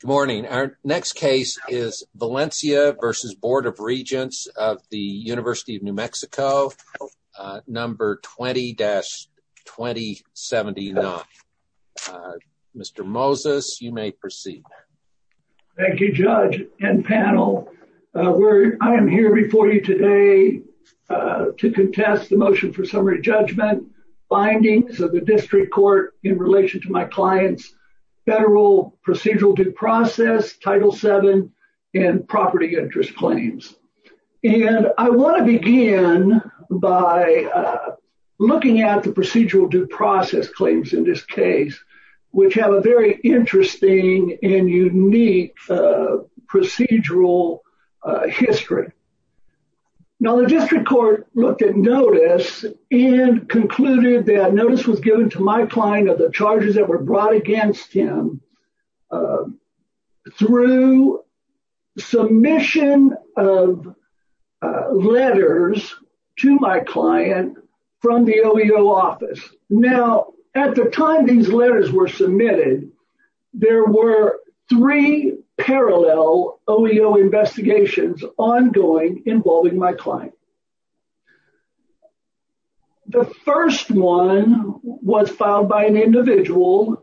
Good morning. Our next case is Valencia v. Board of Regents of the University of New Mexico, number 20-2079. Mr. Moses, you may proceed. Thank you, Judge and panel. I am here before you today to contest the motion for summary judgment, findings of the district court in relation to my client's federal procedural due process, Title VII, and property interest claims. And I want to begin by looking at the procedural due process claims in this case, which have a very interesting and unique procedural history. Now, the district court looked at notice and concluded that notice was given to my client of the charges that were brought against him through submission of letters to my client from the OEO office. Now, at the time these letters were submitted, there were three parallel OEO investigations ongoing involving my client. The first one was filed by an individual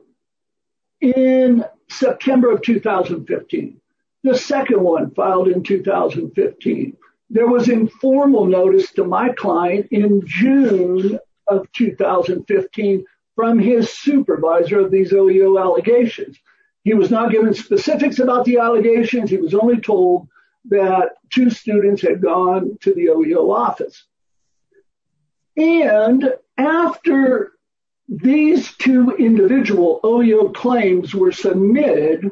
in September of 2015. The second one filed in 2015. There was informal notice to my client in June of 2015 from his supervisor of these OEO allegations. He was not given specifics about the allegations. He was only told that two students had gone to the OEO office. And after these two individual OEO claims were submitted,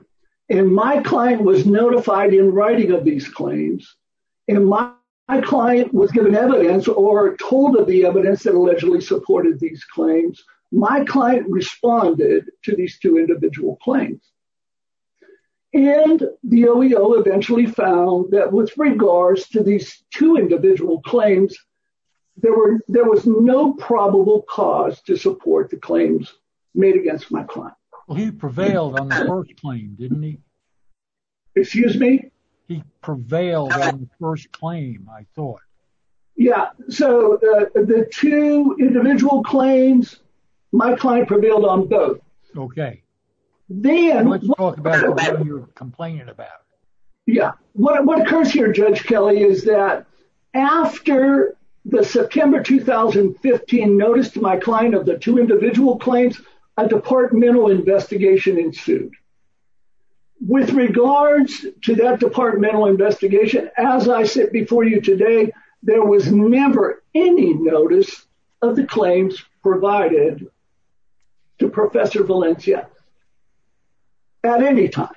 and my client was notified in writing of these claims, and my client was given evidence or told of the evidence that allegedly supported these claims, my client responded to these two individual claims. And the OEO eventually found that with regards to these two individual claims, there was no probable cause to support the claims made against my client. Well, he prevailed on the first claim, didn't he? Excuse me? He prevailed on the first claim, I thought. Yeah. So, the two individual claims, my client prevailed on both. Okay. Let's talk about what you're complaining about. Yeah. What occurs here, Judge Kelly, is that after the September 2015 notice to my client of the two individual claims, a departmental investigation ensued. With regards to that there was never any notice of the claims provided to Professor Valencia at any time.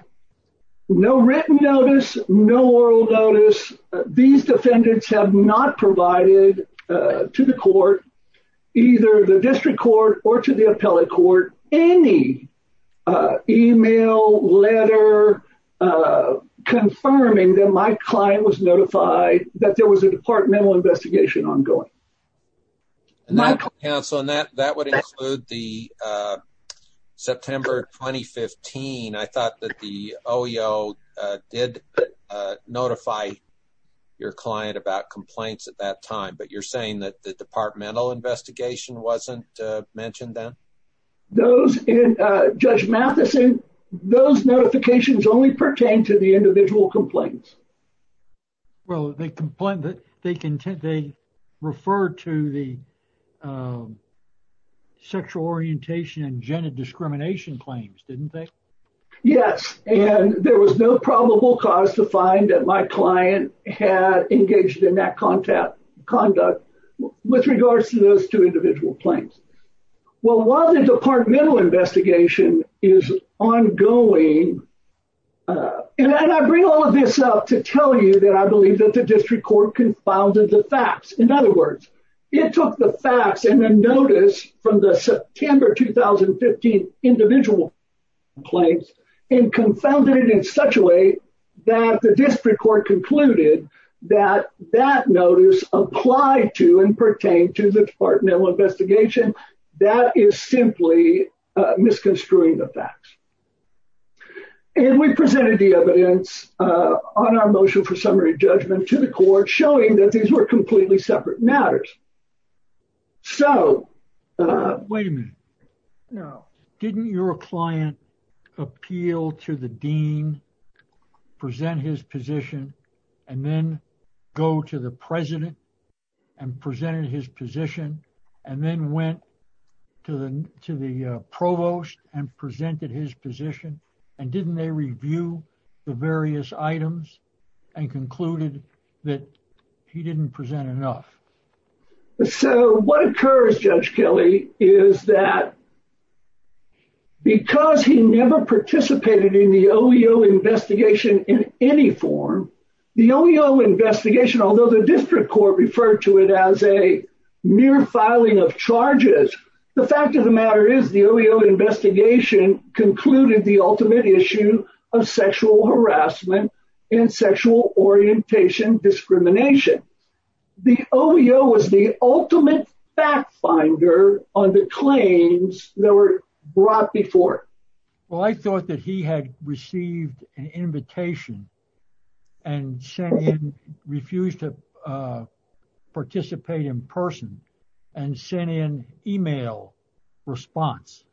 No written notice, no oral notice. These defendants have not provided to the court, either the district court or to the appellate court, any email, letter of confirming that my client was notified that there was a departmental investigation ongoing. And that would include the September 2015. I thought that the OEO did notify your client about complaints at that time, but you're saying that the departmental investigation wasn't mentioned then? Judge Matheson, those notifications only pertain to the individual complaints. Well, they refer to the sexual orientation and gender discrimination claims, didn't they? Yes. And there was no probable cause to find that my client had engaged in that conduct with regards to those two individual claims. Well, while the departmental investigation is ongoing, and I bring all of this up to tell you that I believe that the district court confounded the facts. In other words, it took the facts and the notice from the September 2015 individual claims and confounded it in such a way that the district court concluded that that notice applied to and pertained to the departmental investigation. That is simply misconstruing the facts. And we presented the evidence on our motion for summary judgment to the court showing that these were completely separate matters. So, wait a minute. Didn't your client appeal to the dean, present his position, and then go to the president and presented his position, and then went to the provost and presented his position? And didn't they review the various items and concluded that he didn't present enough? So, what occurs, Judge Kelly, is that because he never participated in the OEO investigation in any form, the OEO investigation, although the district court referred to it as a mere filing of charges, the fact of the matter is the OEO investigation concluded the ultimate issue of sexual harassment and sexual orientation discrimination. The OEO was the ultimate fact finder on the claims that were brought before it. Well, I thought that he had received an invitation and refused to participate in person and sent in an email response.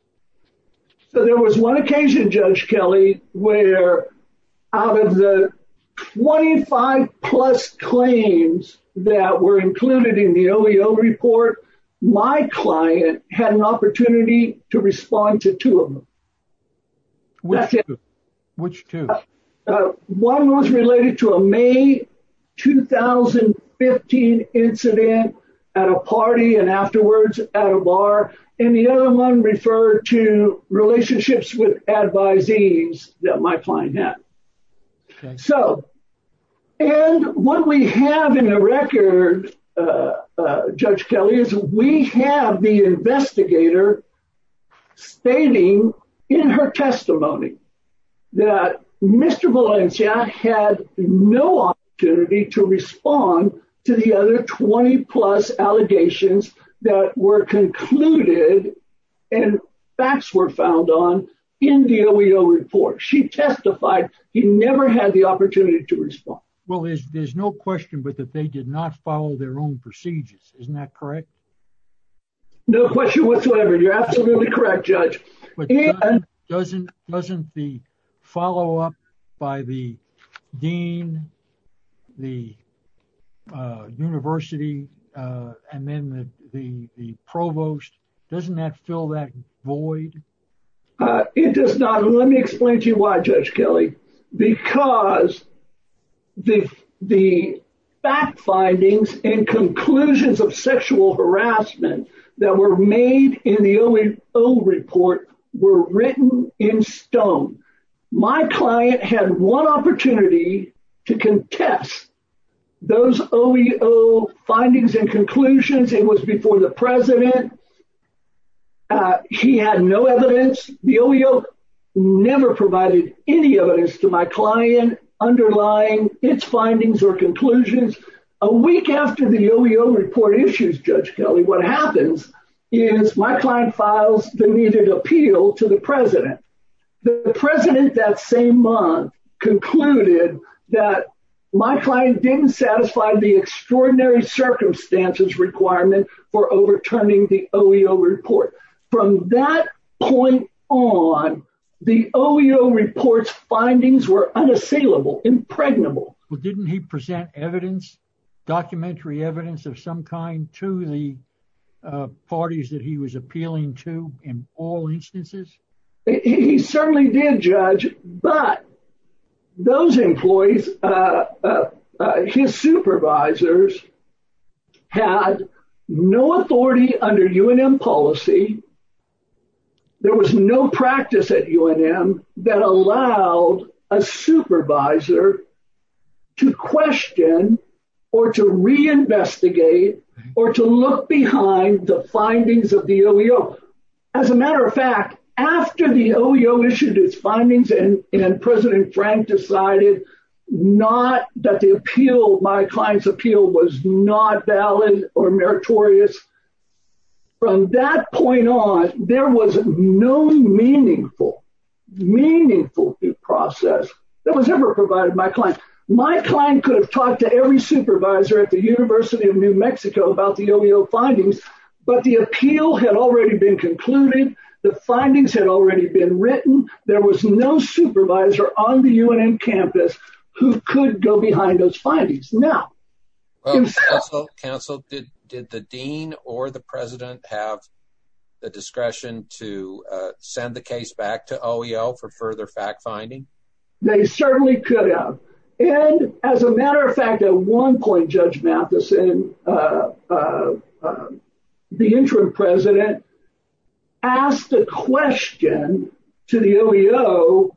So, there was one occasion, Judge Kelly, where out of the 25 plus claims that were included in the OEO report, my client had an opportunity to respond to two of them. Which two? One was related to a May 2015 incident at a party and afterwards at a bar, and the other one referred to relationships with advisees that my client had. So, and what we have in the record, Judge Kelly, is we have the investigator stating in her testimony that Mr. Valencia had no opportunity to respond to the other 20 plus that were concluded and facts were found on in the OEO report. She testified he never had the opportunity to respond. Well, there's no question but that they did not follow their own procedures. Isn't that correct? No question whatsoever. You're absolutely correct, Judge. But doesn't the follow-up by the dean, the university, and then the provost, doesn't that fill that void? It does not. Let me explain to you why, Judge Kelly. Because the fact findings and conclusions of sexual harassment that were made in the OEO report were written in stone. My client had one opportunity to contest those OEO findings and conclusions. It was before the president. He had no evidence. The OEO never provided any to my client underlying its findings or conclusions. A week after the OEO report issues, Judge Kelly, what happens is my client files the needed appeal to the president. The president that same month concluded that my client didn't satisfy the extraordinary circumstances requirement for overturning the OEO report. From that point on, the OEO report's were unassailable, impregnable. Well, didn't he present documentary evidence of some kind to the parties that he was appealing to in all instances? He certainly did, Judge, but those employees, his supervisors, had no authority under UNM policy. There was no practice at UNM that allowed a supervisor to question or to reinvestigate or to look behind the findings of the OEO. As a matter of fact, after the OEO issued its findings and President Frank decided not that the appeal, my client's appeal, was not valid or meritorious, from that point on, there was no meaningful, meaningful due process that was ever provided by my client. My client could have talked to every supervisor at the University of New Mexico about the OEO findings, but the appeal had already been concluded. The findings had already been written. There was no supervisor on the UNM campus who could go behind those findings. Now, well, Counsel, did the dean or the president have the discretion to send the case back to OEO for further fact-finding? They certainly could have, and as a matter of fact, at one point, Judge Matheson, the interim president, asked a question to the OEO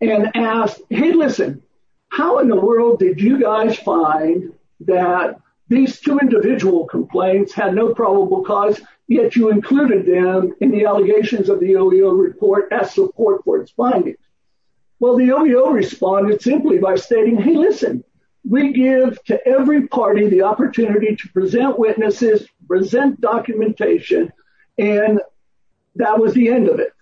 and asked, hey, listen, how in the world did you guys find that these two individual complaints had no probable cause, yet you included them in the allegations of the OEO report as support for its findings? Well, the OEO responded simply by stating, hey, listen, we give to every party the opportunity to present witnesses, present documentation, and that was the end of it.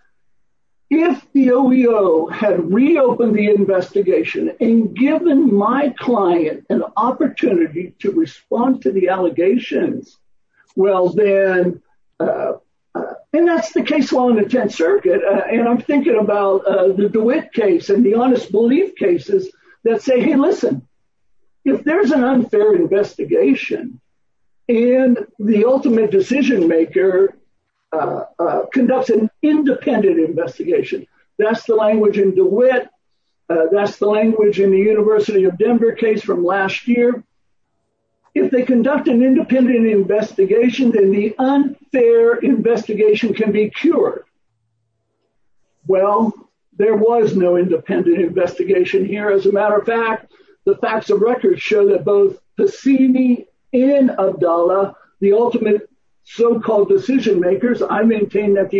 If the OEO had reopened the investigation and given my client an opportunity to respond to the allegations, well, then, and that's the case law in the Tenth Circuit, and I'm thinking about the DeWitt case and the honest belief cases that say, hey, listen, if there's an unfair investigation and the ultimate decision-maker conducts an independent investigation, that's the language in DeWitt, that's the language in the University of Denver case from last year, if they conduct an independent investigation, then the unfair investigation can be cured. Well, there was no independent investigation here. As a matter of fact, the facts of record show that both Hassimi and Abdallah, the ultimate so-called decision-makers, I maintain that the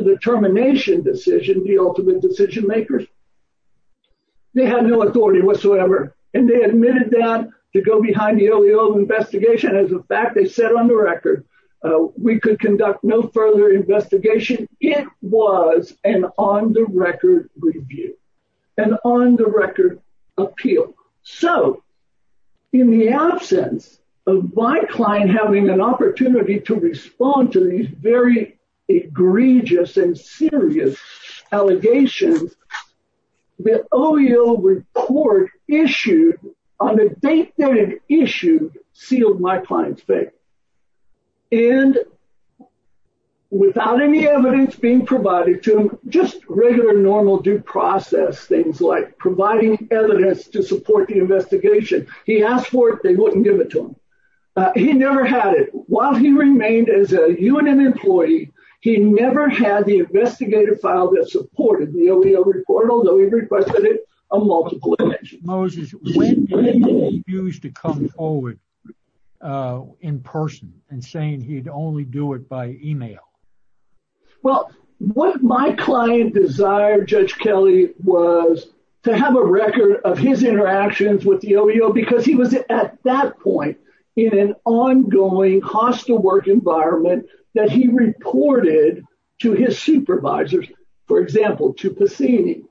determination decision, the ultimate decision-makers, they had no authority whatsoever, and they admitted that to go behind the OEO investigation. As a fact, they said on the record, we could conduct no further investigation. It was an on-the-record review, an on-the-record appeal. So, in the absence of my client having an opportunity to respond to these very egregious and serious allegations, the OEO report issued on the date that it issued sealed my client's fate. And without any evidence being provided to him, just regular normal due process, things like providing evidence to support the investigation, he asked for it, wouldn't give it to him. He never had it. While he remained as a UNM employee, he never had the investigative file that supported the OEO report, although he requested it on multiple occasions. Moses, when did he refuse to come forward in person and saying he'd only do it by email? Well, what my client desired, Judge Kelly, was to have a record of his interactions with the OEO because he was at that point in an ongoing hostile work environment that he reported to his supervisors, for example, to Passini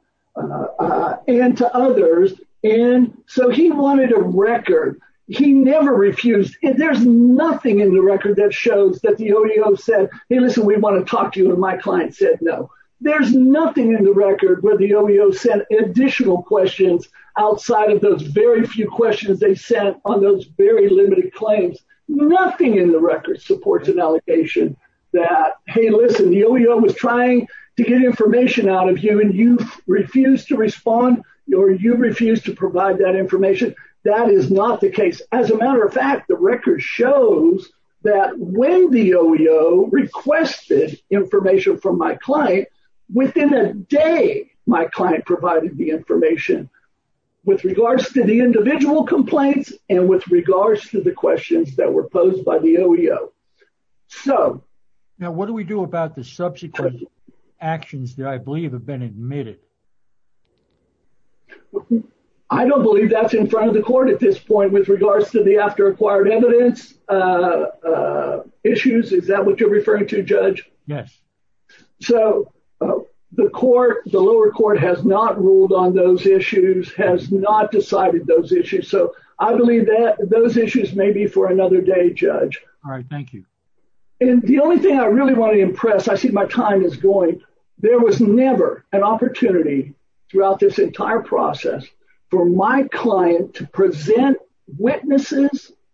and to others. And so, he wanted a record. He never refused. There's nothing in the record that shows that the OEO said, hey, listen, we want to talk to you, and my client said no. There's nothing in the record where the OEO sent additional questions outside of those very few questions they sent on those very limited claims. Nothing in the record supports an allegation that, hey, listen, the OEO was trying to get information out of you, and you refused to respond or you refused to provide that information. That is not the case. As a matter of fact, the record shows that when the OEO requested information from my client, within a day, my client provided the information with regards to the individual complaints and with regards to the questions that were posed by the OEO. Now, what do we do about the subsequent actions that I believe have been admitted? I don't believe that's in front of the court at this point with regards to the acquired evidence issues. Is that what you're referring to, Judge? Yes. So, the lower court has not ruled on those issues, has not decided those issues. So, I believe that those issues may be for another day, Judge. All right. Thank you. And the only thing I really want to impress, I see my time is going. There was never an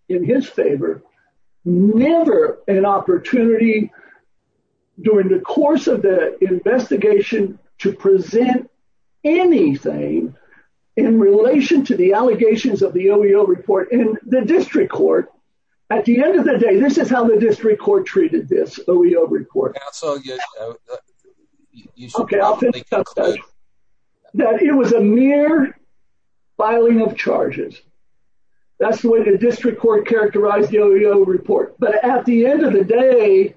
in his favor, never an opportunity during the course of the investigation to present anything in relation to the allegations of the OEO report in the district court. At the end of the day, this is how the district court treated this OEO report. Yeah. So, you should probably conclude. Okay. I'll finish up, Judge. That it was a mere filing of charges. That's the way the district court characterized the OEO report. But at the end of the day,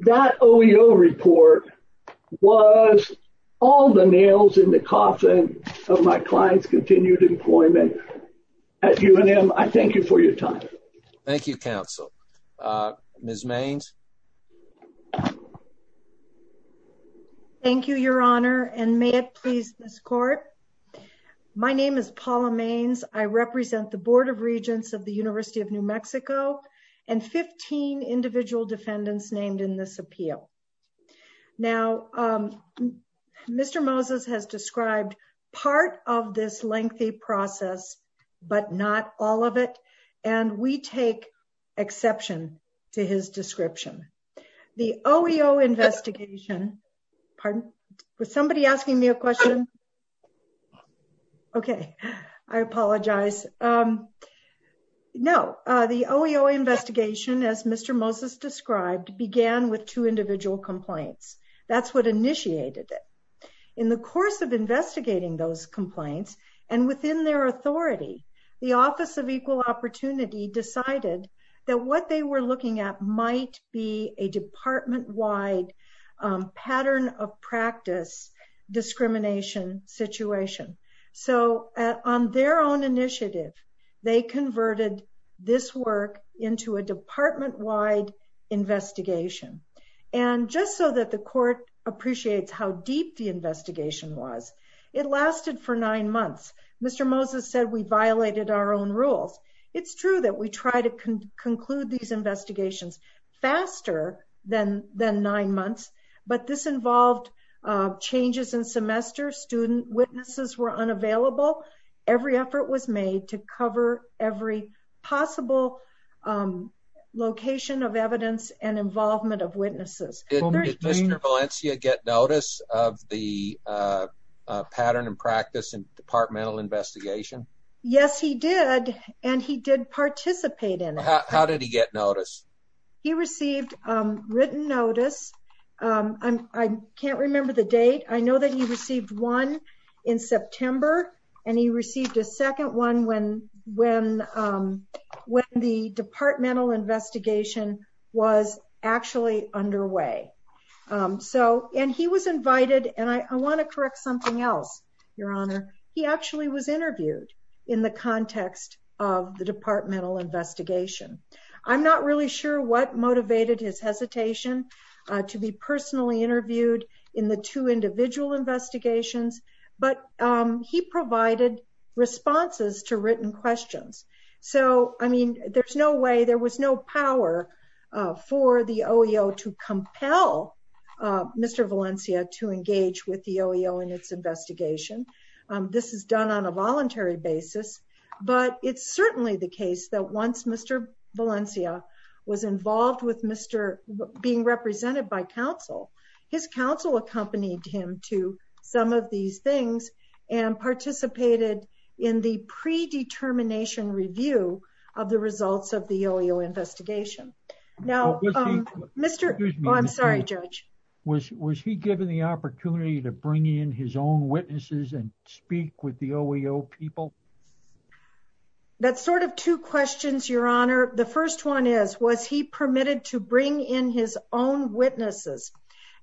that OEO report was all the nails in the coffin of my client's continued employment. At UNM, I thank you for your time. Thank you, counsel. Ms. Mains. Thank you, Your Honor. And may it please this court. My name is Paula Mains. I represent the Board of Regents of the University of New Mexico and 15 individual defendants named in this appeal. Now, Mr. Moses has described part of this lengthy process, but not all of it. And we take exception to his description. The OEO investigation, as Mr. Moses described, began with two individual complaints. That's what initiated it. In the course of investigating those complaints and within their authority, the Office of Equal Opportunity decided that what they were looking at might be a department-wide pattern of practice discrimination situation. So on their own initiative, they converted this work into a department-wide investigation. And just so that the court appreciates how deep the investigation was, it lasted for nine months. Mr. Moses said we violated our own rules. It's true that we try to conclude these investigations faster than nine months, but this involved changes in semester. Student witnesses were unavailable. Every effort was made to cover every possible location of evidence and involvement of witnesses. Did Mr. Valencia get notice of the pattern and practice in departmental investigation? Yes, he did. And he did participate in it. How did he get notice? He received written notice. I can't remember the date. I know that he received one in September, and he received a second one when the departmental investigation was actually underway. And he was invited, and I want to correct something else, Your Honor. He actually was interviewed. In the context of the departmental investigation. I'm not really sure what motivated his hesitation to be personally interviewed in the two individual investigations, but he provided responses to written questions. So, I mean, there's no way, there was no power for the OEO to compel Mr. Valencia to engage with the OEO in its investigation. This is done on a voluntary basis, but it's certainly the case that once Mr. Valencia was involved with being represented by counsel, his counsel accompanied him to some of these things and participated in the investigation. Was he given the opportunity to bring in his own witnesses and speak with the OEO people? That's sort of two questions, Your Honor. The first one is, was he permitted to bring in his own witnesses?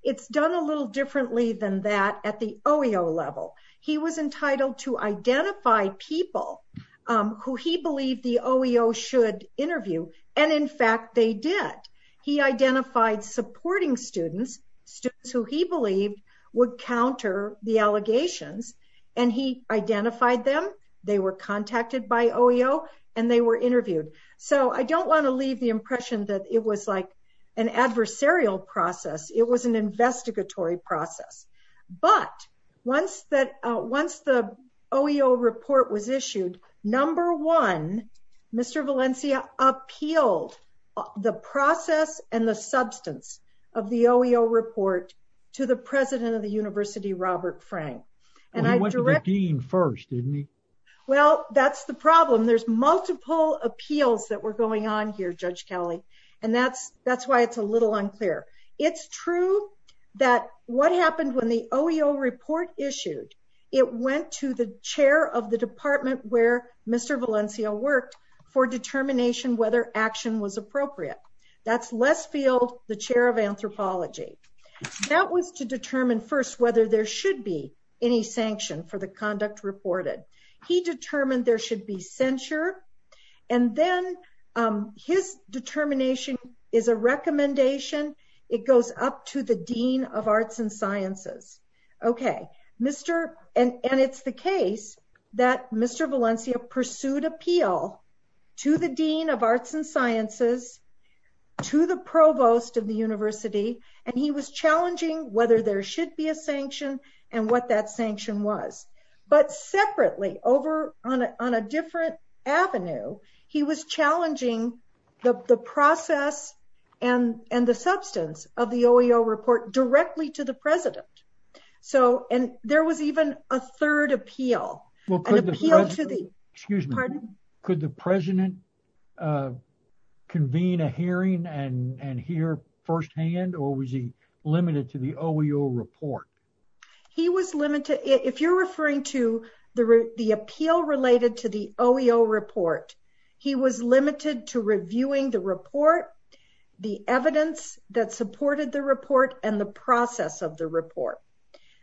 It's done a little differently than that at the OEO level. He was entitled to identify people who he believed the OEO should interview. And in fact, they did. He identified supporting students, students who he believed would counter the allegations and he identified them. They were contacted by OEO and they were interviewed. So, I don't want to leave the impression that it was like an adversarial process. It was an investigatory process. But once the OEO report was issued, number one, Mr. Valencia appealed the process and the substance of the OEO report to the president of the university, Robert Frank. He went to the dean first, didn't he? Well, that's the problem. There's multiple appeals that were going on here, Judge Kelly. And that's why it's a little unclear. It's true that what happened when the OEO report issued, it went to the chair of the department where Mr. Valencia worked for determination whether action was appropriate. That's Les Field, the chair of anthropology. That was to determine first whether there should be any sanction for the conduct reported. He determined there should be censure. And then his determination is a recommendation. It goes up to the dean of arts and sciences. And it's the case that Mr. Valencia pursued appeal to the dean of arts and sciences, to the provost of the university. And he was challenging whether there should be a sanction and what that sanction was. But separately over on a different avenue, he was challenging the process and the substance of the OEO report directly to the president. So, and there was even a third appeal. Well, could the president, excuse me, could the president convene a hearing and hear firsthand or was he limited to the OEO report? He was limited. If you're referring to the appeal related to the OEO report, he was limited to reviewing the report, the evidence that supported the report and the process of the report.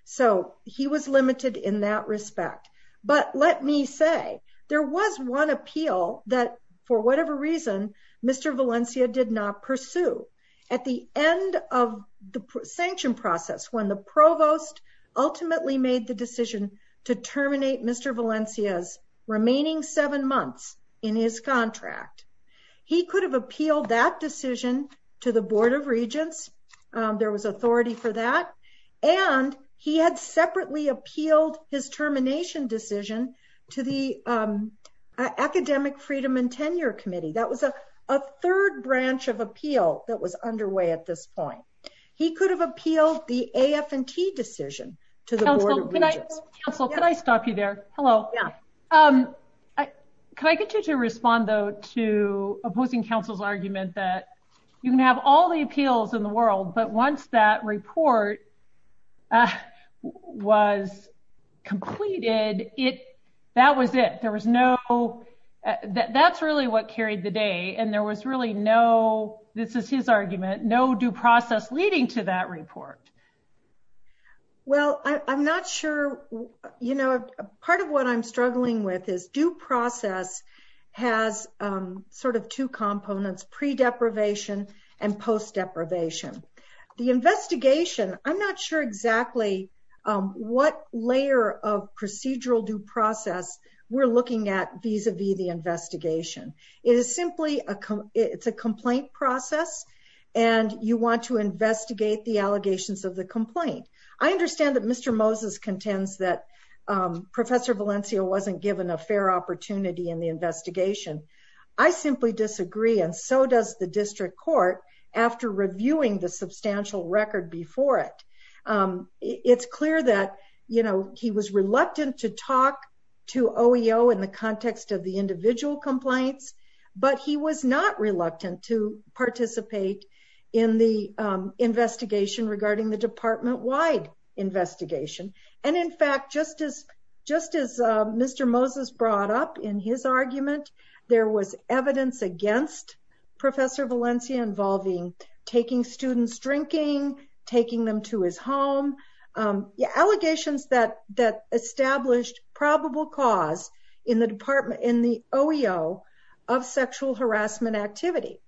So, he was limited in that respect. But let me say there was one appeal that for whatever reason, Mr. Valencia did not pursue. At the end of the sanction process, when the provost ultimately made the decision to terminate Mr. Valencia's remaining seven months in his contract, he could have appealed that decision to the board of regents. There was authority for that. And he had separately appealed his termination decision to the academic freedom and tenure committee. That was a third branch of appeal that was underway at this point. He could have appealed the AF&T decision to the board of regents. Council, can I stop you there? Hello. Can I get you to respond though to opposing council's argument that you can have all the appeals in the world, but once that report was completed, that was it. There was no, that's really what carried the day. And there was really no, this is his argument, no due process leading to that report. Well, I'm not sure, you know, part of what I'm struggling with is due process has sort of two components, pre deprivation and post deprivation. The investigation, I'm not sure exactly what layer of procedural due process we're looking at vis-a-vis the investigation. It is simply a, it's a complaint process and you want to investigate the allegations of the complaint. I understand that Mr. Moses contends that professor Valencia wasn't given a fair opportunity in the investigation. I simply disagree. And so does the district court after reviewing the substantial record before it. It's clear that, you know, he was reluctant to talk to OEO in the context of the individual complaints, but he was not reluctant to participate in the investigation regarding the department-wide investigation. And in fact, just as Mr. Moses brought up in his argument, there was evidence against professor Valencia involving taking students drinking, taking them to his home. Yeah. Allegations that established probable cause in the department, in the OEO of sexual harassment activity.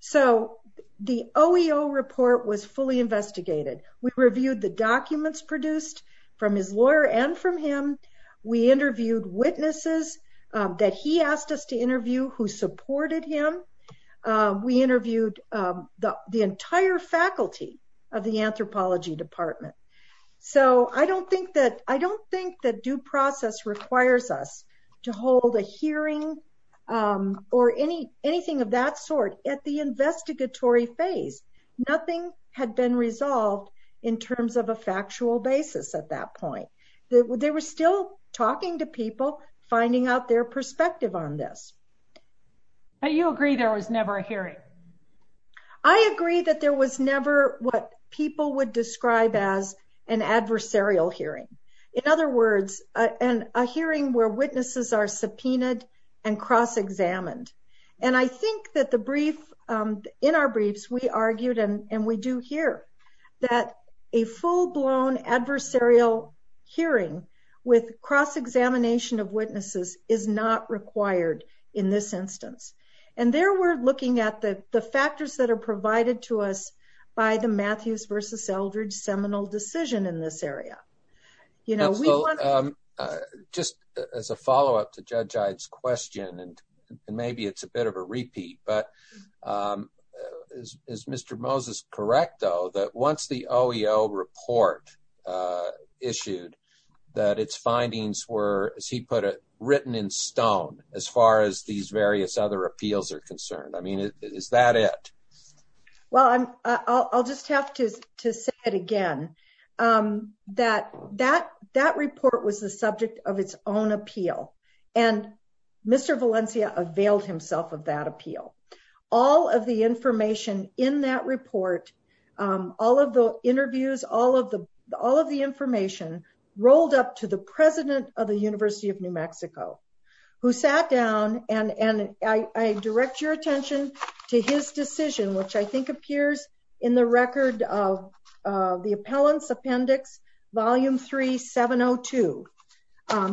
So the OEO report was fully investigated. We reviewed the documents produced from his lawyer and from him. We interviewed witnesses that he asked us to interview who supported him. We interviewed the entire faculty of the anthropology department. So I don't think that, I don't think that due process requires us to hold a hearing or any, anything of that sort at the investigatory phase. Nothing had been resolved in terms of a factual basis at that point. They were still talking to people, finding out their was never a hearing. I agree that there was never what people would describe as an adversarial hearing. In other words, a hearing where witnesses are subpoenaed and cross-examined. And I think that the brief, in our briefs, we argued and we do here that a full-blown adversarial hearing with cross-examination of witnesses is not required in this instance. And there we're looking at the factors that are provided to us by the Matthews versus Eldredge seminal decision in this area. You know, we want, just as a follow-up to Judge Ide's question, and maybe it's a bit of repeat, but is Mr. Moses correct though, that once the OEO report issued, that its findings were, as he put it, written in stone as far as these various other appeals are concerned. I mean, is that it? Well, I'll just have to say it again. That report was the subject of its own appeal. And Mr. Valencia availed himself of that appeal. All of the information in that report, all of the interviews, all of the information rolled up to the president of the University of New Mexico, who sat down and I direct your attention to his decision, which I think appears in the record of the appellant's appendix, Volume 3, 702.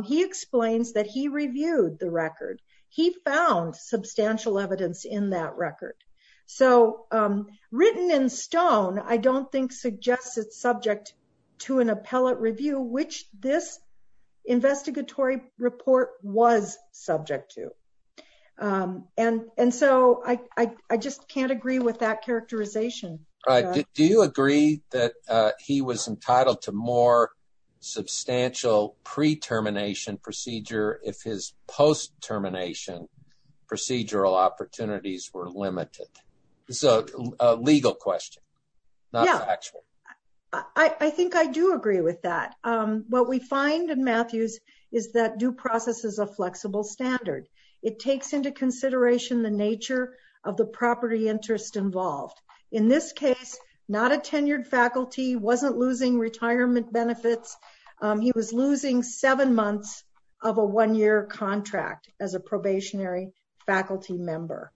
He explains that he reviewed the record. He found substantial evidence in that record. So written in stone, I don't think suggests it's subject to an appellate review, which this investigatory report was subject to. And so I just can't agree with that characterization. Do you agree that he was entitled to more substantial pre-termination procedure if his post-termination procedural opportunities were limited? It's a legal question, not factual. I think I do agree with that. What we find in Matthews is that due process is a flexible standard. It takes into consideration the nature of the property interest involved. In this case, not a tenured faculty, wasn't losing retirement benefits. He was losing seven months of a one-year contract as a probationary faculty member.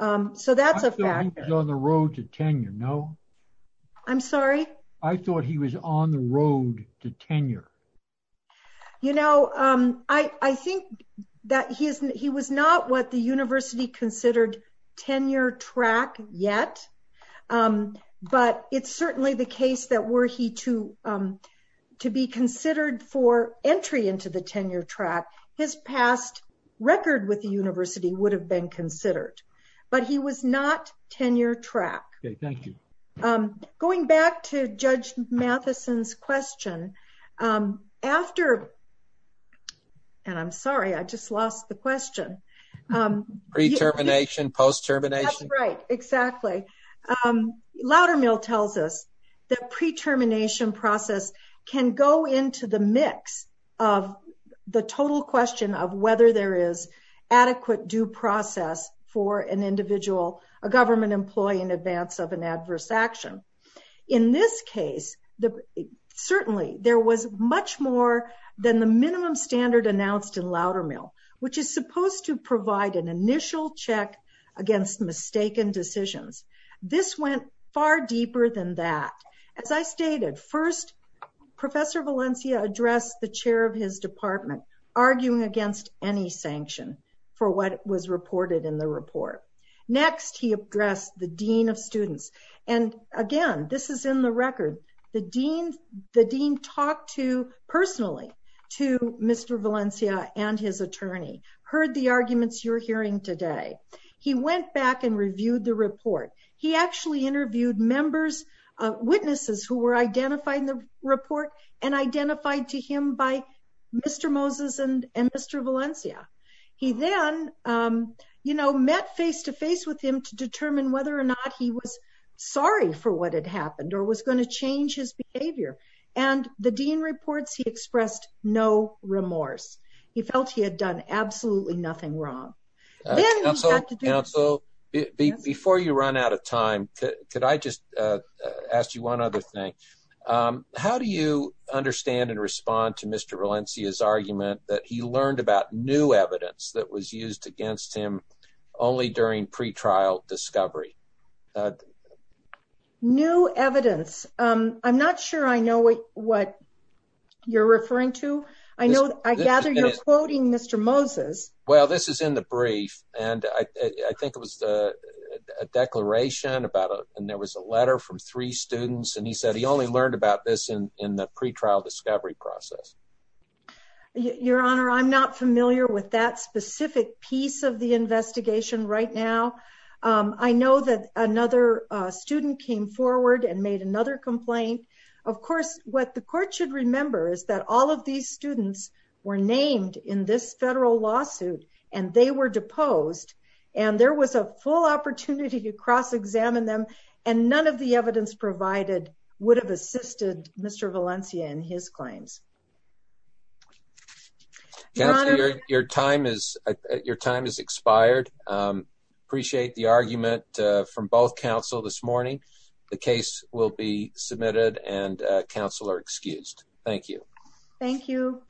So that's a fact. I thought he was on the road to tenure, no? I'm sorry? I thought he was on the road to tenure. You know, I think that he was not what the university considered tenure track yet. But it's certainly the case that were he to be considered for entry into the tenure track, his past record with the university would have been considered. But he was not tenure track. Okay, thank you. Going back to Judge Matheson's question, and I'm sorry, I just lost the question. Pre-termination, post-termination? Right, exactly. Loudermill tells us that pre-termination process can go into the mix of the total question of whether there is adequate due process for an individual, a government employee, in advance of an adverse action. In this case, certainly there was much more than the minimum standard announced in Loudermill, which is supposed to provide an initial check against mistaken decisions. This went far deeper than that. As I stated, first, Valencia addressed the chair of his department, arguing against any sanction for what was reported in the report. Next, he addressed the dean of students. And again, this is in the record, the dean talked personally to Mr. Valencia and his attorney, heard the arguments you're hearing today. He went back and reviewed the report. He actually interviewed witnesses who were identified in the report and identified to him by Mr. Moses and Mr. Valencia. He then, you know, met face-to-face with him to determine whether or not he was sorry for what had happened or was going to change his behavior. And the dean reports he expressed no remorse. He felt he had done absolutely nothing wrong. Counsel, before you run out of time, could I just ask you one other thing? How do you understand and respond to Mr. Valencia's argument that he learned about new evidence that was used against him only during pretrial discovery? New evidence. I'm not sure I know what you're referring to. I know I gather you're quoting Mr. Moses. Well, this is in the brief. And I think it was a declaration about it. And there was a letter from three students. And he said he only learned about this in the pretrial discovery process. Your Honor, I'm not familiar with that specific piece of the investigation right now. I know that another student came forward and made another complaint. Of course, what the court should remember is that all of these students were named in this federal lawsuit and they were deposed. And there was a full opportunity to cross-examine them. And none of the evidence provided would have assisted Mr. Valencia in his claims. Counsel, your time is expired. Appreciate the argument from both counsel this morning. The case will be submitted and counsel are excused. Thank you. Thank you.